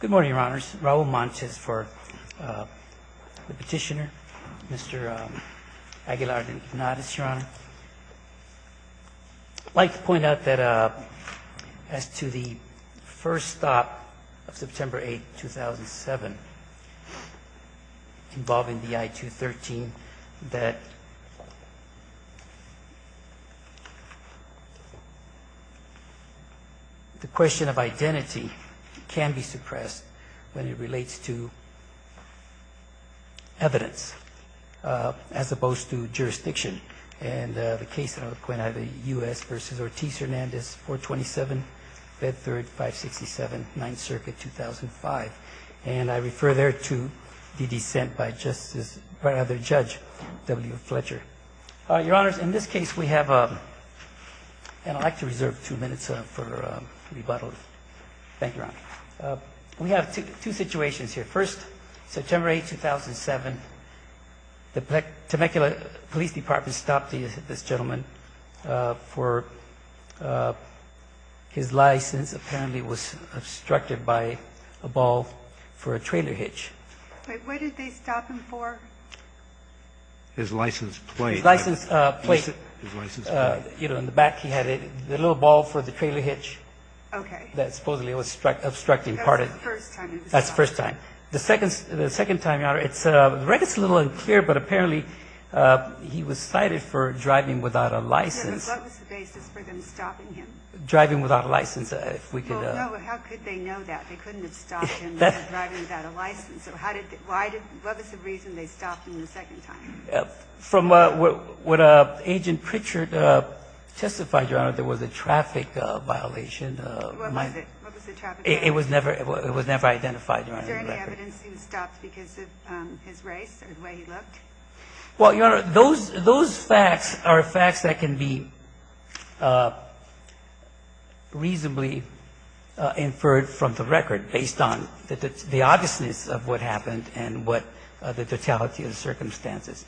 Good morning, Your Honors. Raul Montes for the petitioner, Mr. Aguilar-Linares, Your Honor. I'd like to point out that as to the first stop of September 8, 2007, involving the I-213, that the question of identity can be suppressed when it relates to evidence, as opposed to jurisdiction. And the case that I'll point out, the U.S. v. Ortiz-Hernandez, 427 Bedford 567, 9th Circuit, 2005. And I refer there to the dissent by Justice – by other judge, W. Fletcher. Your Honors, in this case, we have – and I'd like to reserve two minutes for rebuttal. Thank you, Your Honor. We have two situations here. First, September 8, 2007, the Temecula Police Department stopped this gentleman for his license. Apparently, it was obstructed by a ball for a trailer hitch. Wait, what did they stop him for? His license plate. His license plate. His license plate. You know, in the back, he had a little ball for the trailer hitch. Okay. That supposedly was obstructing part of it. That was the first time it was stopped. That's the first time. The second time, Your Honor, it's – the record's a little unclear, but apparently, he was cited for driving without a license. What was the basis for them stopping him? Driving without a license, if we could – Well, no, how could they know that? They couldn't have stopped him for driving without a license. So how did – why did – what was the reason they stopped him the second time? From what Agent Pritchard testified, Your Honor, there was a traffic violation. What was it? What was the traffic violation? It was never – it was never identified, Your Honor, in the record. Was there any evidence he was stopped because of his race or the way he looked? Well, Your Honor, those facts are facts that can be reasonably inferred from the record based on the obviousness of what happened and what the totality of the circumstances.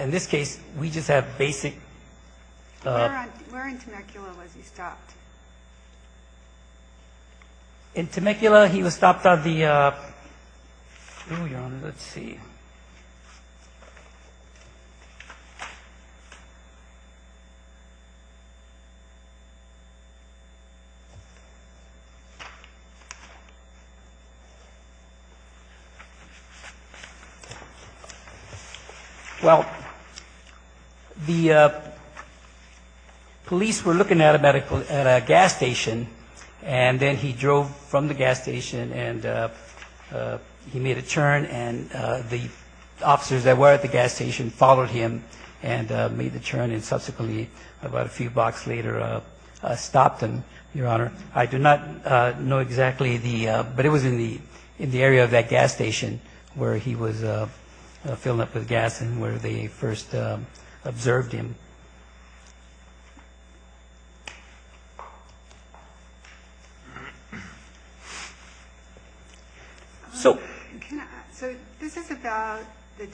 In this case, we just have basic – Where in Temecula was he stopped? In Temecula, he was stopped by the – oh, Your Honor, let's see. Well, the police were looking at a gas station, and then he drove from the gas station, and he made a turn, and the officers that were at the gas station followed him and made the turn and subsequently, about a few blocks later, stopped him, Your Honor. I do not know exactly the – but it was in the area of that gas station where he was filling up with gas and where they first observed him. So this is about the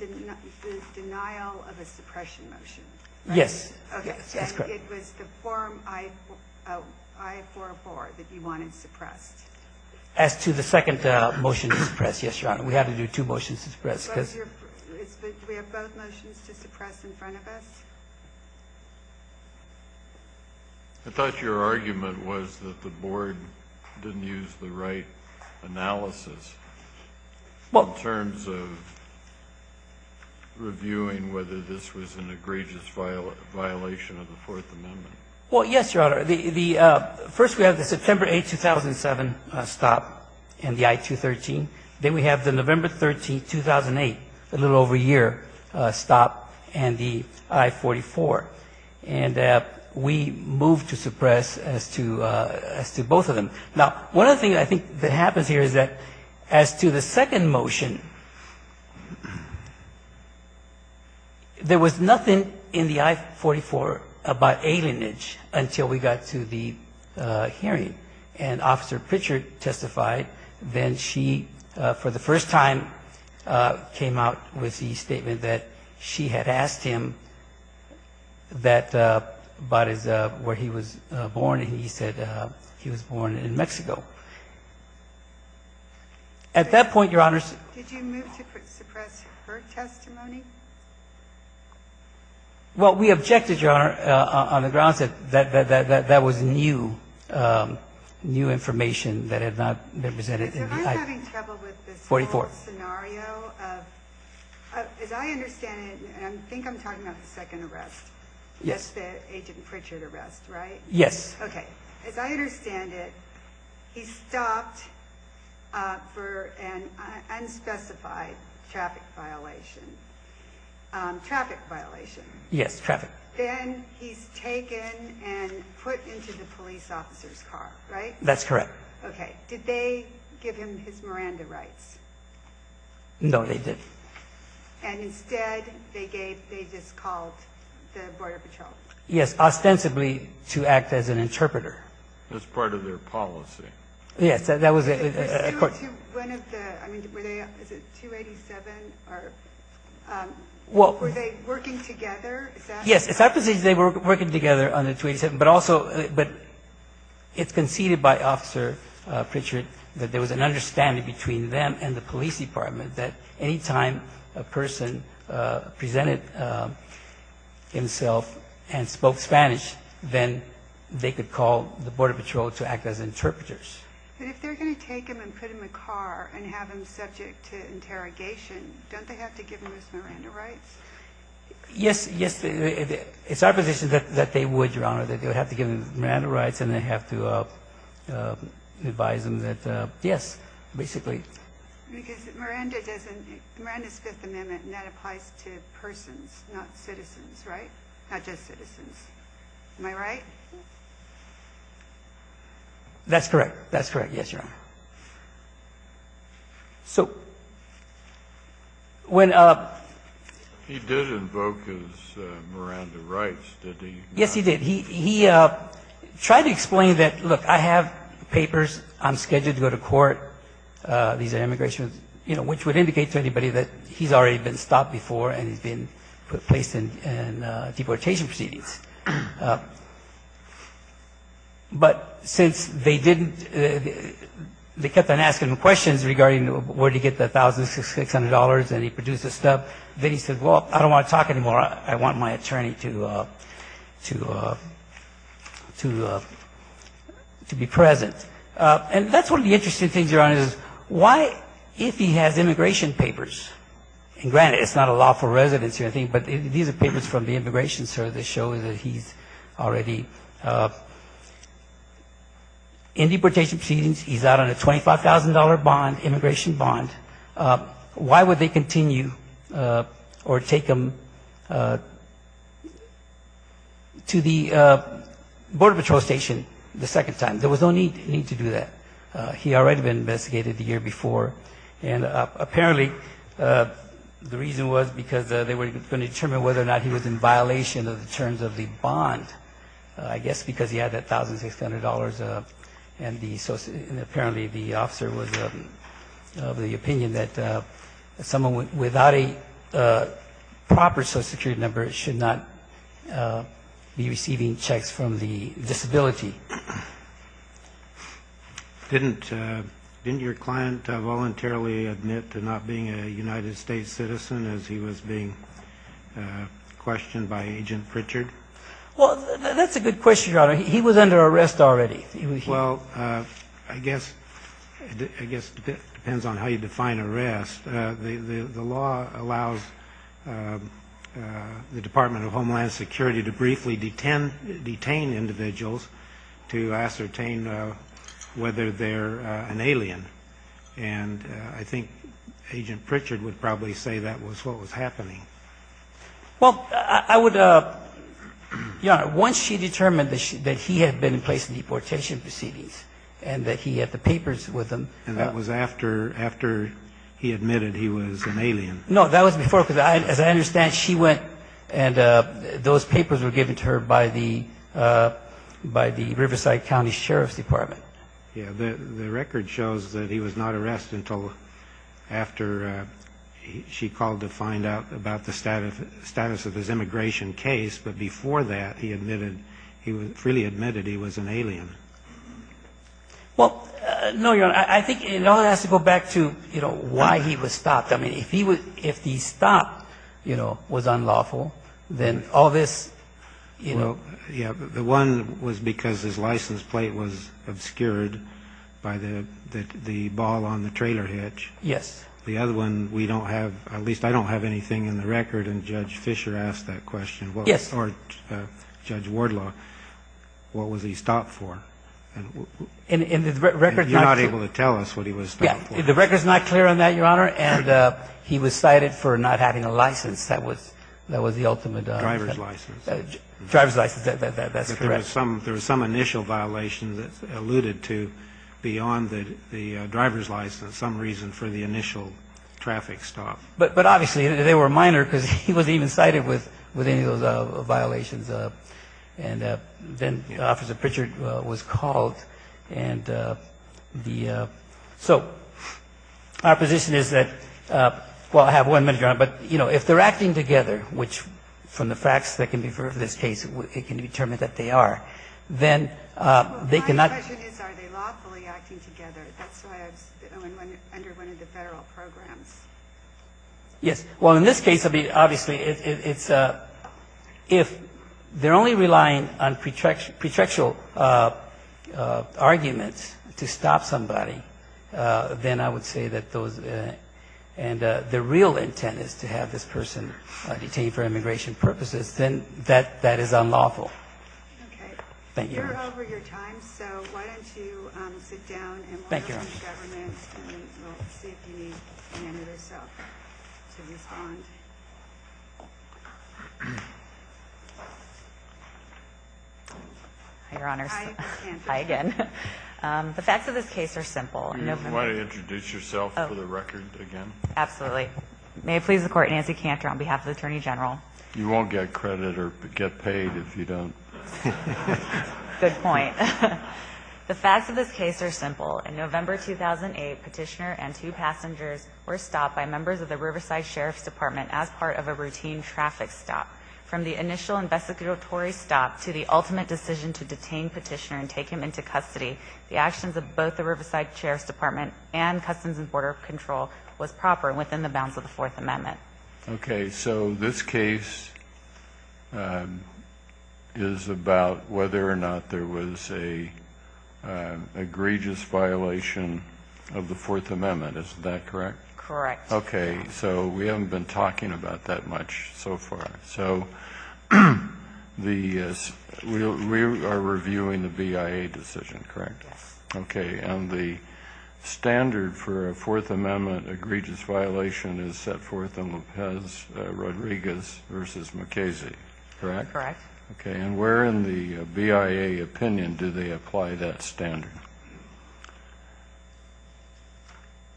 denial of a suppression motion? Yes. Okay. And it was the form I-404 that you wanted suppressed? As to the second motion to suppress, yes, Your Honor. We had to do two motions to suppress because – I thought your argument was that the Board didn't use the right analysis in terms of reviewing whether this was an egregious violation of the Fourth Amendment. Well, yes, Your Honor. First, we have the September 8, 2007 stop and the I-213. Then we have the November 13, 2008, a little over a year, stop and the I-44. And we moved to suppress as to both of them. Now, one of the things I think that happens here is that as to the second motion, there was nothing in the I-44 about alienage until we got to the hearing. And Officer Pritchard testified. Then she, for the first time, came out with the statement that she had asked him about where he was born, and he said he was born in Mexico. At that point, Your Honor – Did you move to suppress her testimony? Well, we objected, Your Honor, on the grounds that that was new information that had not been presented in the I-44. Because if I'm having trouble with this whole scenario of – as I understand it, and I think I'm talking about the second arrest, the Agent Pritchard arrest, right? Yes. Okay. As I understand it, he stopped for an unspecified traffic violation. Traffic violation. Yes, traffic. Then he's taken and put into the police officer's car, right? That's correct. Okay. Did they give him his Miranda rights? No, they didn't. And instead, they just called the Border Patrol? Yes, ostensibly to act as an interpreter. As part of their policy. Yes, that was – Were they working together? Yes, it's after they were working together on the 287, but also – but it's conceded by Officer Pritchard that there was an understanding between them and the police that any time a person presented himself and spoke Spanish, then they could call the Border Patrol to act as interpreters. But if they're going to take him and put him in a car and have him subject to interrogation, don't they have to give him his Miranda rights? Yes, it's our position that they would, Your Honor, that they would have to give him Yes, basically. Because Miranda doesn't – Miranda's Fifth Amendment, and that applies to persons, not citizens, right? Not just citizens. Am I right? That's correct. That's correct. Yes, Your Honor. So when – He did invoke his Miranda rights, didn't he? Yes, he did. He tried to explain that, look, I have papers. I'm scheduled to go to court. These are immigration – which would indicate to anybody that he's already been stopped before and he's been placed in deportation proceedings. But since they didn't – they kept on asking him questions regarding where to get the $1,600 and he produced a stub. Then he said, well, I don't want to talk anymore. I want my attorney to be present. And that's one of the interesting things, Your Honor, is why – if he has immigration papers – and granted, it's not a lawful residency or anything, but these are papers from the immigration service that show that he's already in deportation proceedings. He's out on a $25,000 bond, immigration bond. Why would they continue or take him to the Border Patrol station the second time? There was no need to do that. He had already been investigated the year before, and apparently the reason was because they were going to determine whether or not he was in violation of the terms of the bond, I guess because he had that $1,600. And apparently the officer was of the opinion that someone without a proper social security number should not be receiving checks from the disability. Didn't your client voluntarily admit to not being a United States citizen as he was being questioned by Agent Richard? No, he was under arrest already. Well, I guess it depends on how you define arrest. The law allows the Department of Homeland Security to briefly detain individuals to ascertain whether they're an alien, and I think Agent Richard would probably say that was what was happening. Well, I would, Your Honor, once she determined that he had been in place in deportation proceedings and that he had the papers with him. And that was after he admitted he was an alien. No, that was before, because as I understand, she went and those papers were given to her by the Riverside County Sheriff's Department. Yeah, the record shows that he was not arrested until after she called to find out about the status of his immigration case. But before that, he freely admitted he was an alien. Well, no, Your Honor, I think it all has to go back to, you know, why he was stopped. I mean, if he stopped, you know, was unlawful, then all this, you know. Well, yeah, the one was because his license plate was obscured by the ball on the trailer hitch. Yes. The other one, we don't have, at least I don't have anything in the record, and Judge Fisher asked that question. Yes. Or Judge Wardlaw, what was he stopped for? And the record's not clear. You're not able to tell us what he was stopped for. Yeah, the record's not clear on that, Your Honor, and he was cited for not having a license. That was the ultimate. Driver's license. Driver's license, that's correct. There was some initial violation that's alluded to beyond the driver's license, some reason for the initial traffic stop. But obviously, they were minor because he wasn't even cited with any of those violations. And then Officer Pritchard was called. And so our position is that, well, I have one minute, Your Honor. But, you know, if they're acting together, which from the facts that can be from this case, it can be determined that they are, then they cannot. My question is, are they lawfully acting together? That's why I was under one of the federal programs. Yes. Well, in this case, obviously, it's if they're only relying on pretextual arguments to stop somebody, then I would say that those, and the real intent is to have this person detained for immigration purposes, then that is unlawful. Thank you, Your Honor. We're over your time, so why don't you sit down and we'll see if you need another self to respond. Hi, Your Honor. Hi, Ms. Hanford. Hi again. The facts of this case are simple. Do you want to introduce yourself for the record again? Absolutely. May it please the Court, Nancy Cantor on behalf of the Attorney General. You won't get credit or get paid if you don't. Good point. The facts of this case are simple. In November 2008, Petitioner and two passengers were stopped by members of the Riverside Sheriff's Department as part of a routine traffic stop. From the initial investigatory stop to the ultimate decision to detain Petitioner and take him into custody, the actions of both the Riverside Sheriff's Department and Customs and Border Control was proper and within the bounds of the Fourth Amendment. Okay. So this case is about whether or not there was an egregious violation of the Fourth Amendment. Isn't that correct? Correct. Okay. So we haven't been talking about that much so far. Okay. So we are reviewing the BIA decision, correct? Yes. Okay. And the standard for a Fourth Amendment egregious violation is set forth in Lopez-Rodriguez v. McKaysey, correct? Correct. Okay. And where in the BIA opinion do they apply that standard?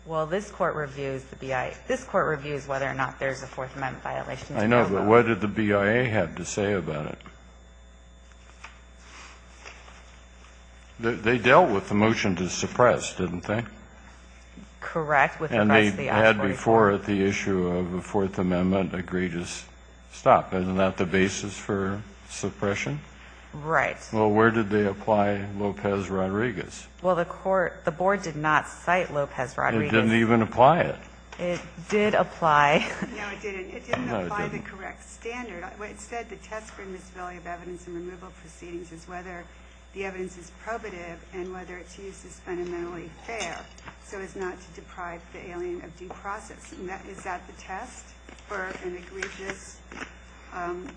Well, this Court reviews the BIA. This Court reviews whether or not there's a Fourth Amendment violation. I know, but what did the BIA have to say about it? They dealt with the motion to suppress, didn't they? Correct. And they had before it the issue of a Fourth Amendment egregious stop. Isn't that the basis for suppression? Right. Well, where did they apply Lopez-Rodriguez? Well, the Board did not cite Lopez-Rodriguez. It didn't even apply it. It did apply. No, it didn't. No, it didn't. It didn't apply the correct standard. Instead, the test for miscellaneous evidence in removal proceedings is whether the evidence is probative and whether its use is fundamentally fair so as not to deprive the alien of due process. Is that the test for an egregious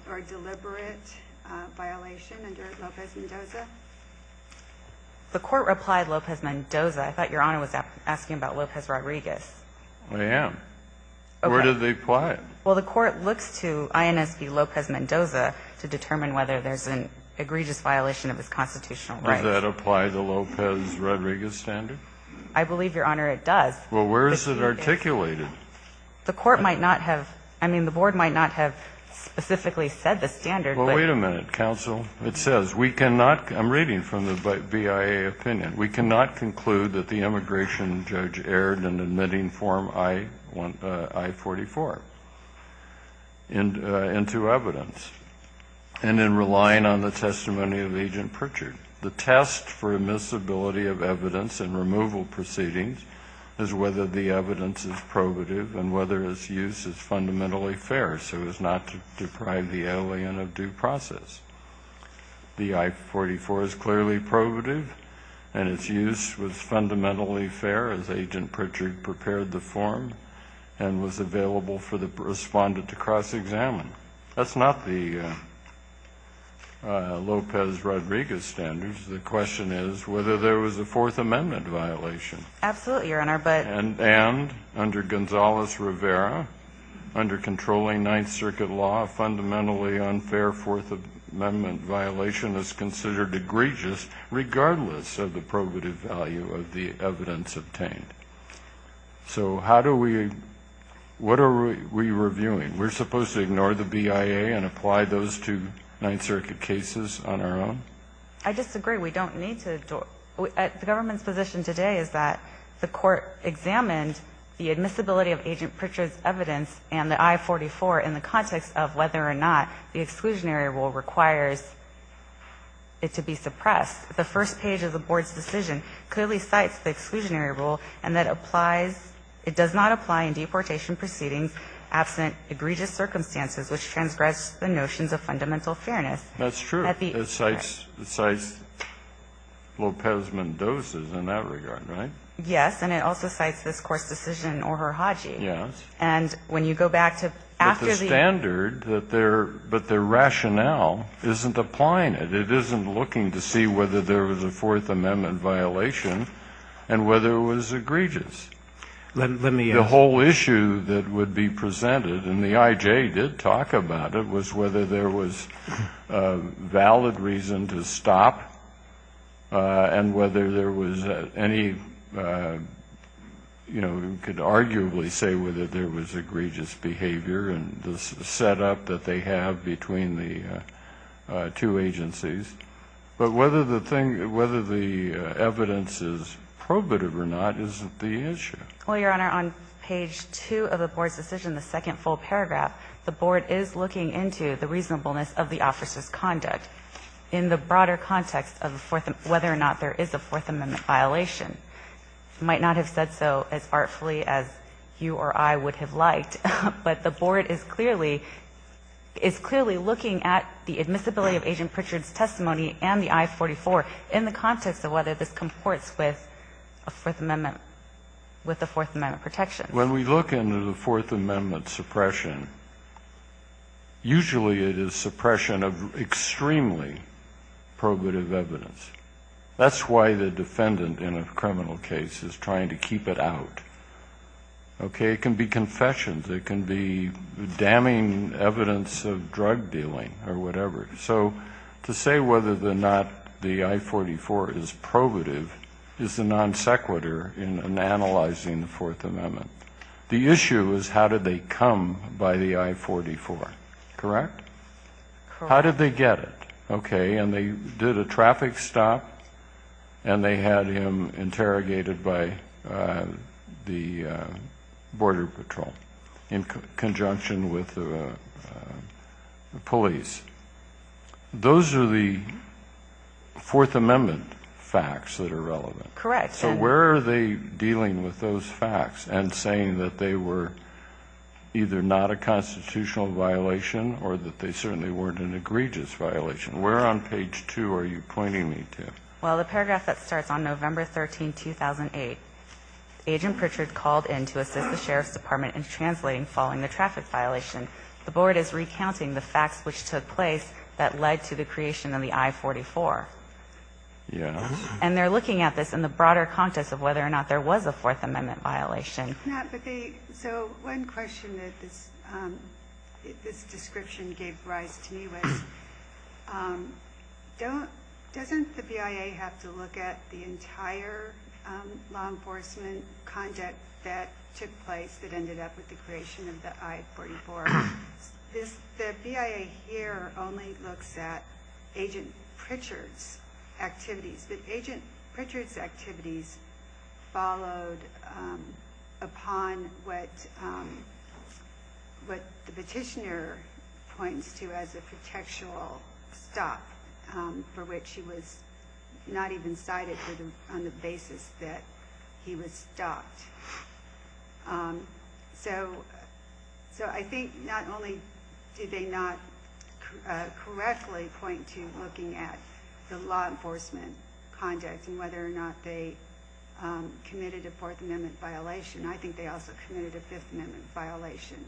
or deliberate violation under Lopez-Mendoza? The Court replied Lopez-Mendoza. I thought Your Honor was asking about Lopez-Rodriguez. I am. Okay. Where did they apply it? Well, the Court looks to INSB Lopez-Mendoza to determine whether there's an egregious violation of its constitutional right. Does that apply the Lopez-Rodriguez standard? I believe, Your Honor, it does. Well, where is it articulated? The Court might not have, I mean, the Board might not have specifically said the standard. Well, wait a minute, counsel. It says we cannot, I'm reading from the BIA opinion, we cannot conclude that the immigration judge erred in admitting Form I-44 into evidence and in relying on the testimony of Agent Pritchard. The test for admissibility of evidence in removal proceedings is whether the evidence is probative and whether its use is fundamentally fair so as not to deprive the alien of due process. The I-44 is clearly probative and its use was fundamentally fair as Agent Pritchard prepared the form and was available for the respondent to cross-examine. That's not the Lopez-Rodriguez standards. The question is whether there was a Fourth Amendment violation. Absolutely, Your Honor, but – And under Gonzales-Rivera, under controlling Ninth Circuit law, a fundamentally unfair Fourth Amendment violation is considered egregious regardless of the probative value of the evidence obtained. So how do we – what are we reviewing? We're supposed to ignore the BIA and apply those to Ninth Circuit cases on our own? I disagree. We don't need to – the government's position today is that the Court examined the admissibility of Agent Pritchard's evidence and the I-44 in the context of whether or not the exclusionary rule requires it to be suppressed. The first page of the Board's decision clearly cites the exclusionary rule and that applies – it does not apply in deportation proceedings absent egregious circumstances which transgress the notions of fundamental fairness. That's true. It cites Lopez Mendoza's in that regard, right? Yes, and it also cites this Court's decision in Orr-Hiraji. Yes. And when you go back to after the – But the standard that their – but their rationale isn't applying it. It isn't looking to see whether there was a Fourth Amendment violation and whether it was egregious. Let me – The whole issue that would be presented, and the IJ did talk about it, was whether there was a valid reason to stop and whether there was any – you know, you could arguably say whether there was egregious behavior in the setup that they have between the two agencies. But whether the thing – whether the evidence is probative or not isn't the issue. Well, Your Honor, on page 2 of the Board's decision, the second full paragraph, the Board is looking into the reasonableness of the officer's conduct in the broader context of whether or not there is a Fourth Amendment violation. I might not have said so as artfully as you or I would have liked, but the Board is clearly – is clearly looking at the admissibility of Agent Pritchard's testimony and the I-44 in the context of whether this comports with a Fourth Amendment – with the Fourth Amendment protection. When we look into the Fourth Amendment suppression, usually it is suppression of extremely probative evidence. That's why the defendant in a criminal case is trying to keep it out. Okay? It can be confessions. It can be damning evidence of drug dealing or whatever. So to say whether or not the I-44 is probative is the non sequitur in analyzing the Fourth Amendment. The issue is how did they come by the I-44. Correct? Correct. How did they get it? Okay. And they did a traffic stop and they had him interrogated by the Border Patrol in conjunction with the police. Those are the Fourth Amendment facts that are relevant. Correct. So where are they dealing with those facts and saying that they were either not a constitutional violation or that they certainly weren't an egregious violation? Where on page 2 are you pointing me to? Well, the paragraph that starts on November 13, 2008, Agent Pritchard called in to assist the Sheriff's Department in translating following the traffic violation. The Board is recounting the facts which took place that led to the creation of the I-44. Yes. And they're looking at this in the broader context of whether or not there was a Fourth Amendment violation. So one question that this description gave rise to me was doesn't the BIA have to look at the entire law enforcement conduct that took place that ended up with the creation of the I-44? The BIA here only looks at Agent Pritchard's activities. Agent Pritchard's activities followed upon what the petitioner points to as a contextual stop for which he was not even cited on the basis that he was stopped. So I think not only did they not correctly point to looking at the law enforcement conduct and whether or not they committed a Fourth Amendment violation, I think they also committed a Fifth Amendment violation.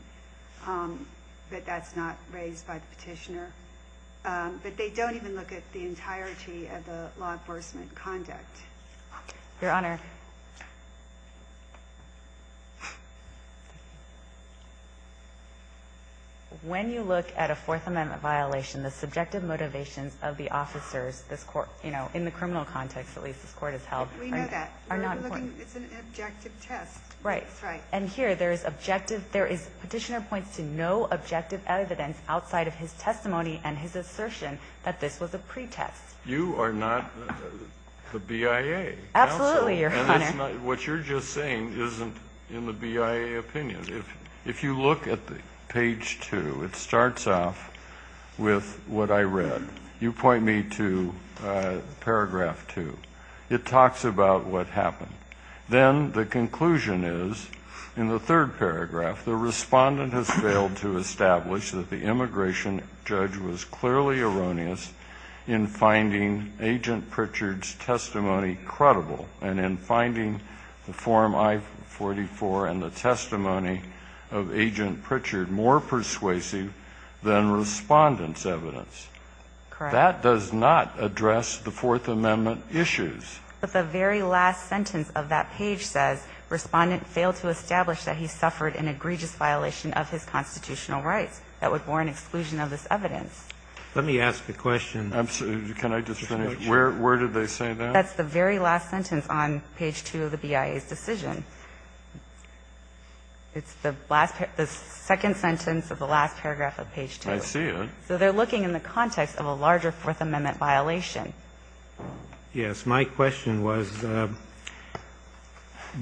But that's not raised by the petitioner. But they don't even look at the entirety of the law enforcement conduct. Your Honor. When you look at a Fourth Amendment violation, the subjective motivations of the officers in the criminal context, at least this Court has held, are not important. We know that. It's an objective test. Right. Right. And here there is objective. Petitioner points to no objective evidence outside of his testimony and his You are not the BIA. Absolutely, Your Honor. What you're just saying isn't in the BIA opinion. If you look at page 2, it starts off with what I read. You point me to paragraph 2. It talks about what happened. Then the conclusion is in the third paragraph, the respondent has failed to establish that the immigration judge was clearly erroneous in finding Agent Pritchard more persuasive than Respondent's evidence. Correct. That does not address the Fourth Amendment issues. But the very last sentence of that page says Respondent failed to establish that he suffered an egregious violation of his constitutional rights. That would warrant exclusion of this evidence. Let me ask a question. Can I just finish? Where did they say that? That's the very last sentence on page 2 of the BIA's decision. It's the second sentence of the last paragraph of page 2. I see it. So they're looking in the context of a larger Fourth Amendment violation. Yes. My question was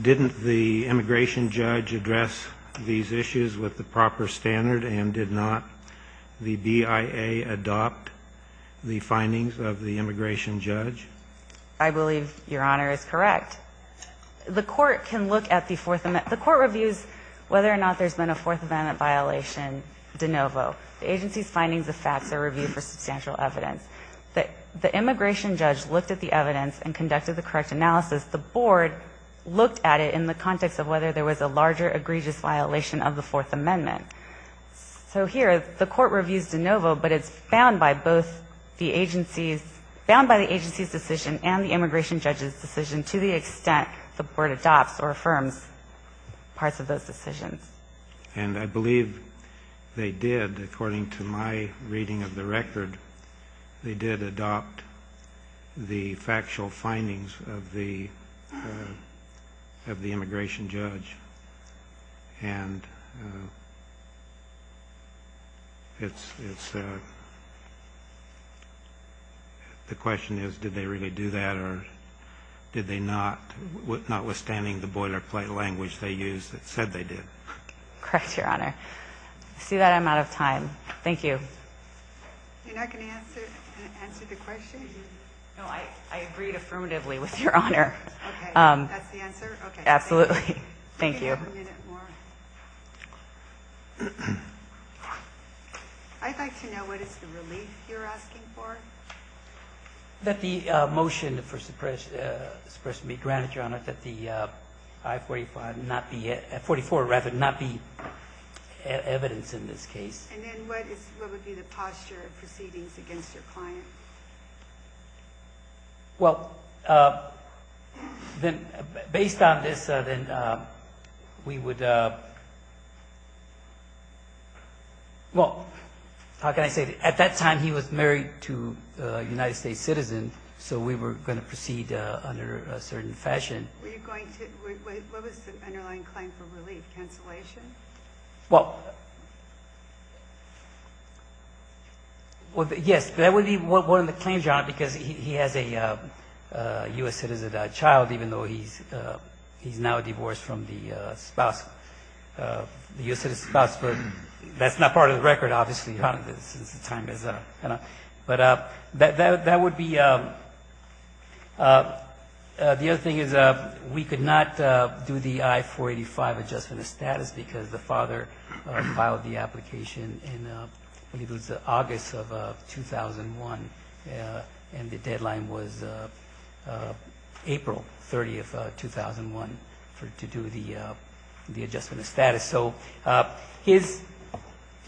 didn't the immigration judge address these issues with the proper standard and did not the BIA adopt the findings of the immigration judge? I believe Your Honor is correct. The court can look at the Fourth Amendment. The court reviews whether or not there's been a Fourth Amendment violation de novo. The agency's findings of facts are reviewed for substantial evidence. The immigration judge looked at the evidence and conducted the correct analysis. The board looked at it in the context of whether there was a larger egregious violation of the Fourth Amendment. So here the court reviews de novo, but it's found by both the agencies, found by the agency's decision and the immigration judge's decision to the extent the board adopts or affirms parts of those decisions. And I believe they did, according to my reading of the record, they did adopt the factual findings of the immigration judge. And it's the question is did they really do that or did they not, notwithstanding the boilerplate language they used that said they did? Correct, Your Honor. I see that I'm out of time. Thank you. You're not going to answer the question? No, I agreed affirmatively with Your Honor. Okay. That's the answer? Okay. Absolutely. Thank you. I'd like to know what is the relief you're asking for? That the motion for suppression be granted, Your Honor, that the I-44 not be evidence in this case. And then what would be the posture of proceedings against your client? Well, then based on this, then we would, well, how can I say this? At that time he was married to a United States citizen, so we were going to proceed under a certain fashion. Were you going to, what was the underlying claim for relief, cancellation? Well, yes, that would be one of the claims, Your Honor, because he has a U.S. citizen child, even though he's now divorced from the spouse, the U.S. citizen spouse, but that's not part of the record, obviously, since the time is up. But that would be, the other thing is we could not do the I-485 adjustment of status because the father filed the application in, I believe it was August of 2001, and the deadline was April 30th, 2001, to do the adjustment of status. So his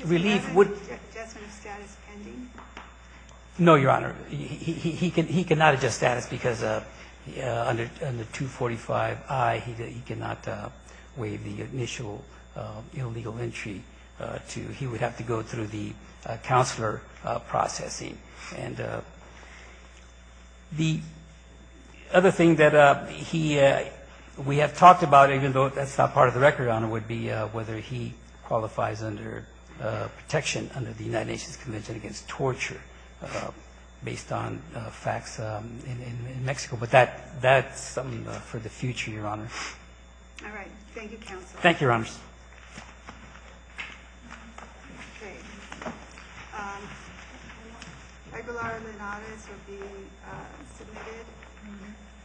relief would Do we have an adjustment of status pending? No, Your Honor. He could not adjust status because under 245-I he could not waive the initial illegal entry. He would have to go through the counselor processing. And the other thing that he, we have talked about, even though that's not part of the record, Your Honor, would be whether he qualifies under protection under the United Nations Convention Against Torture, based on facts in Mexico, but that's something for the future, Your Honor. All right. Thank you, counsel. Thank you, Your Honors. Great. Aguilar and Linares are being submitted.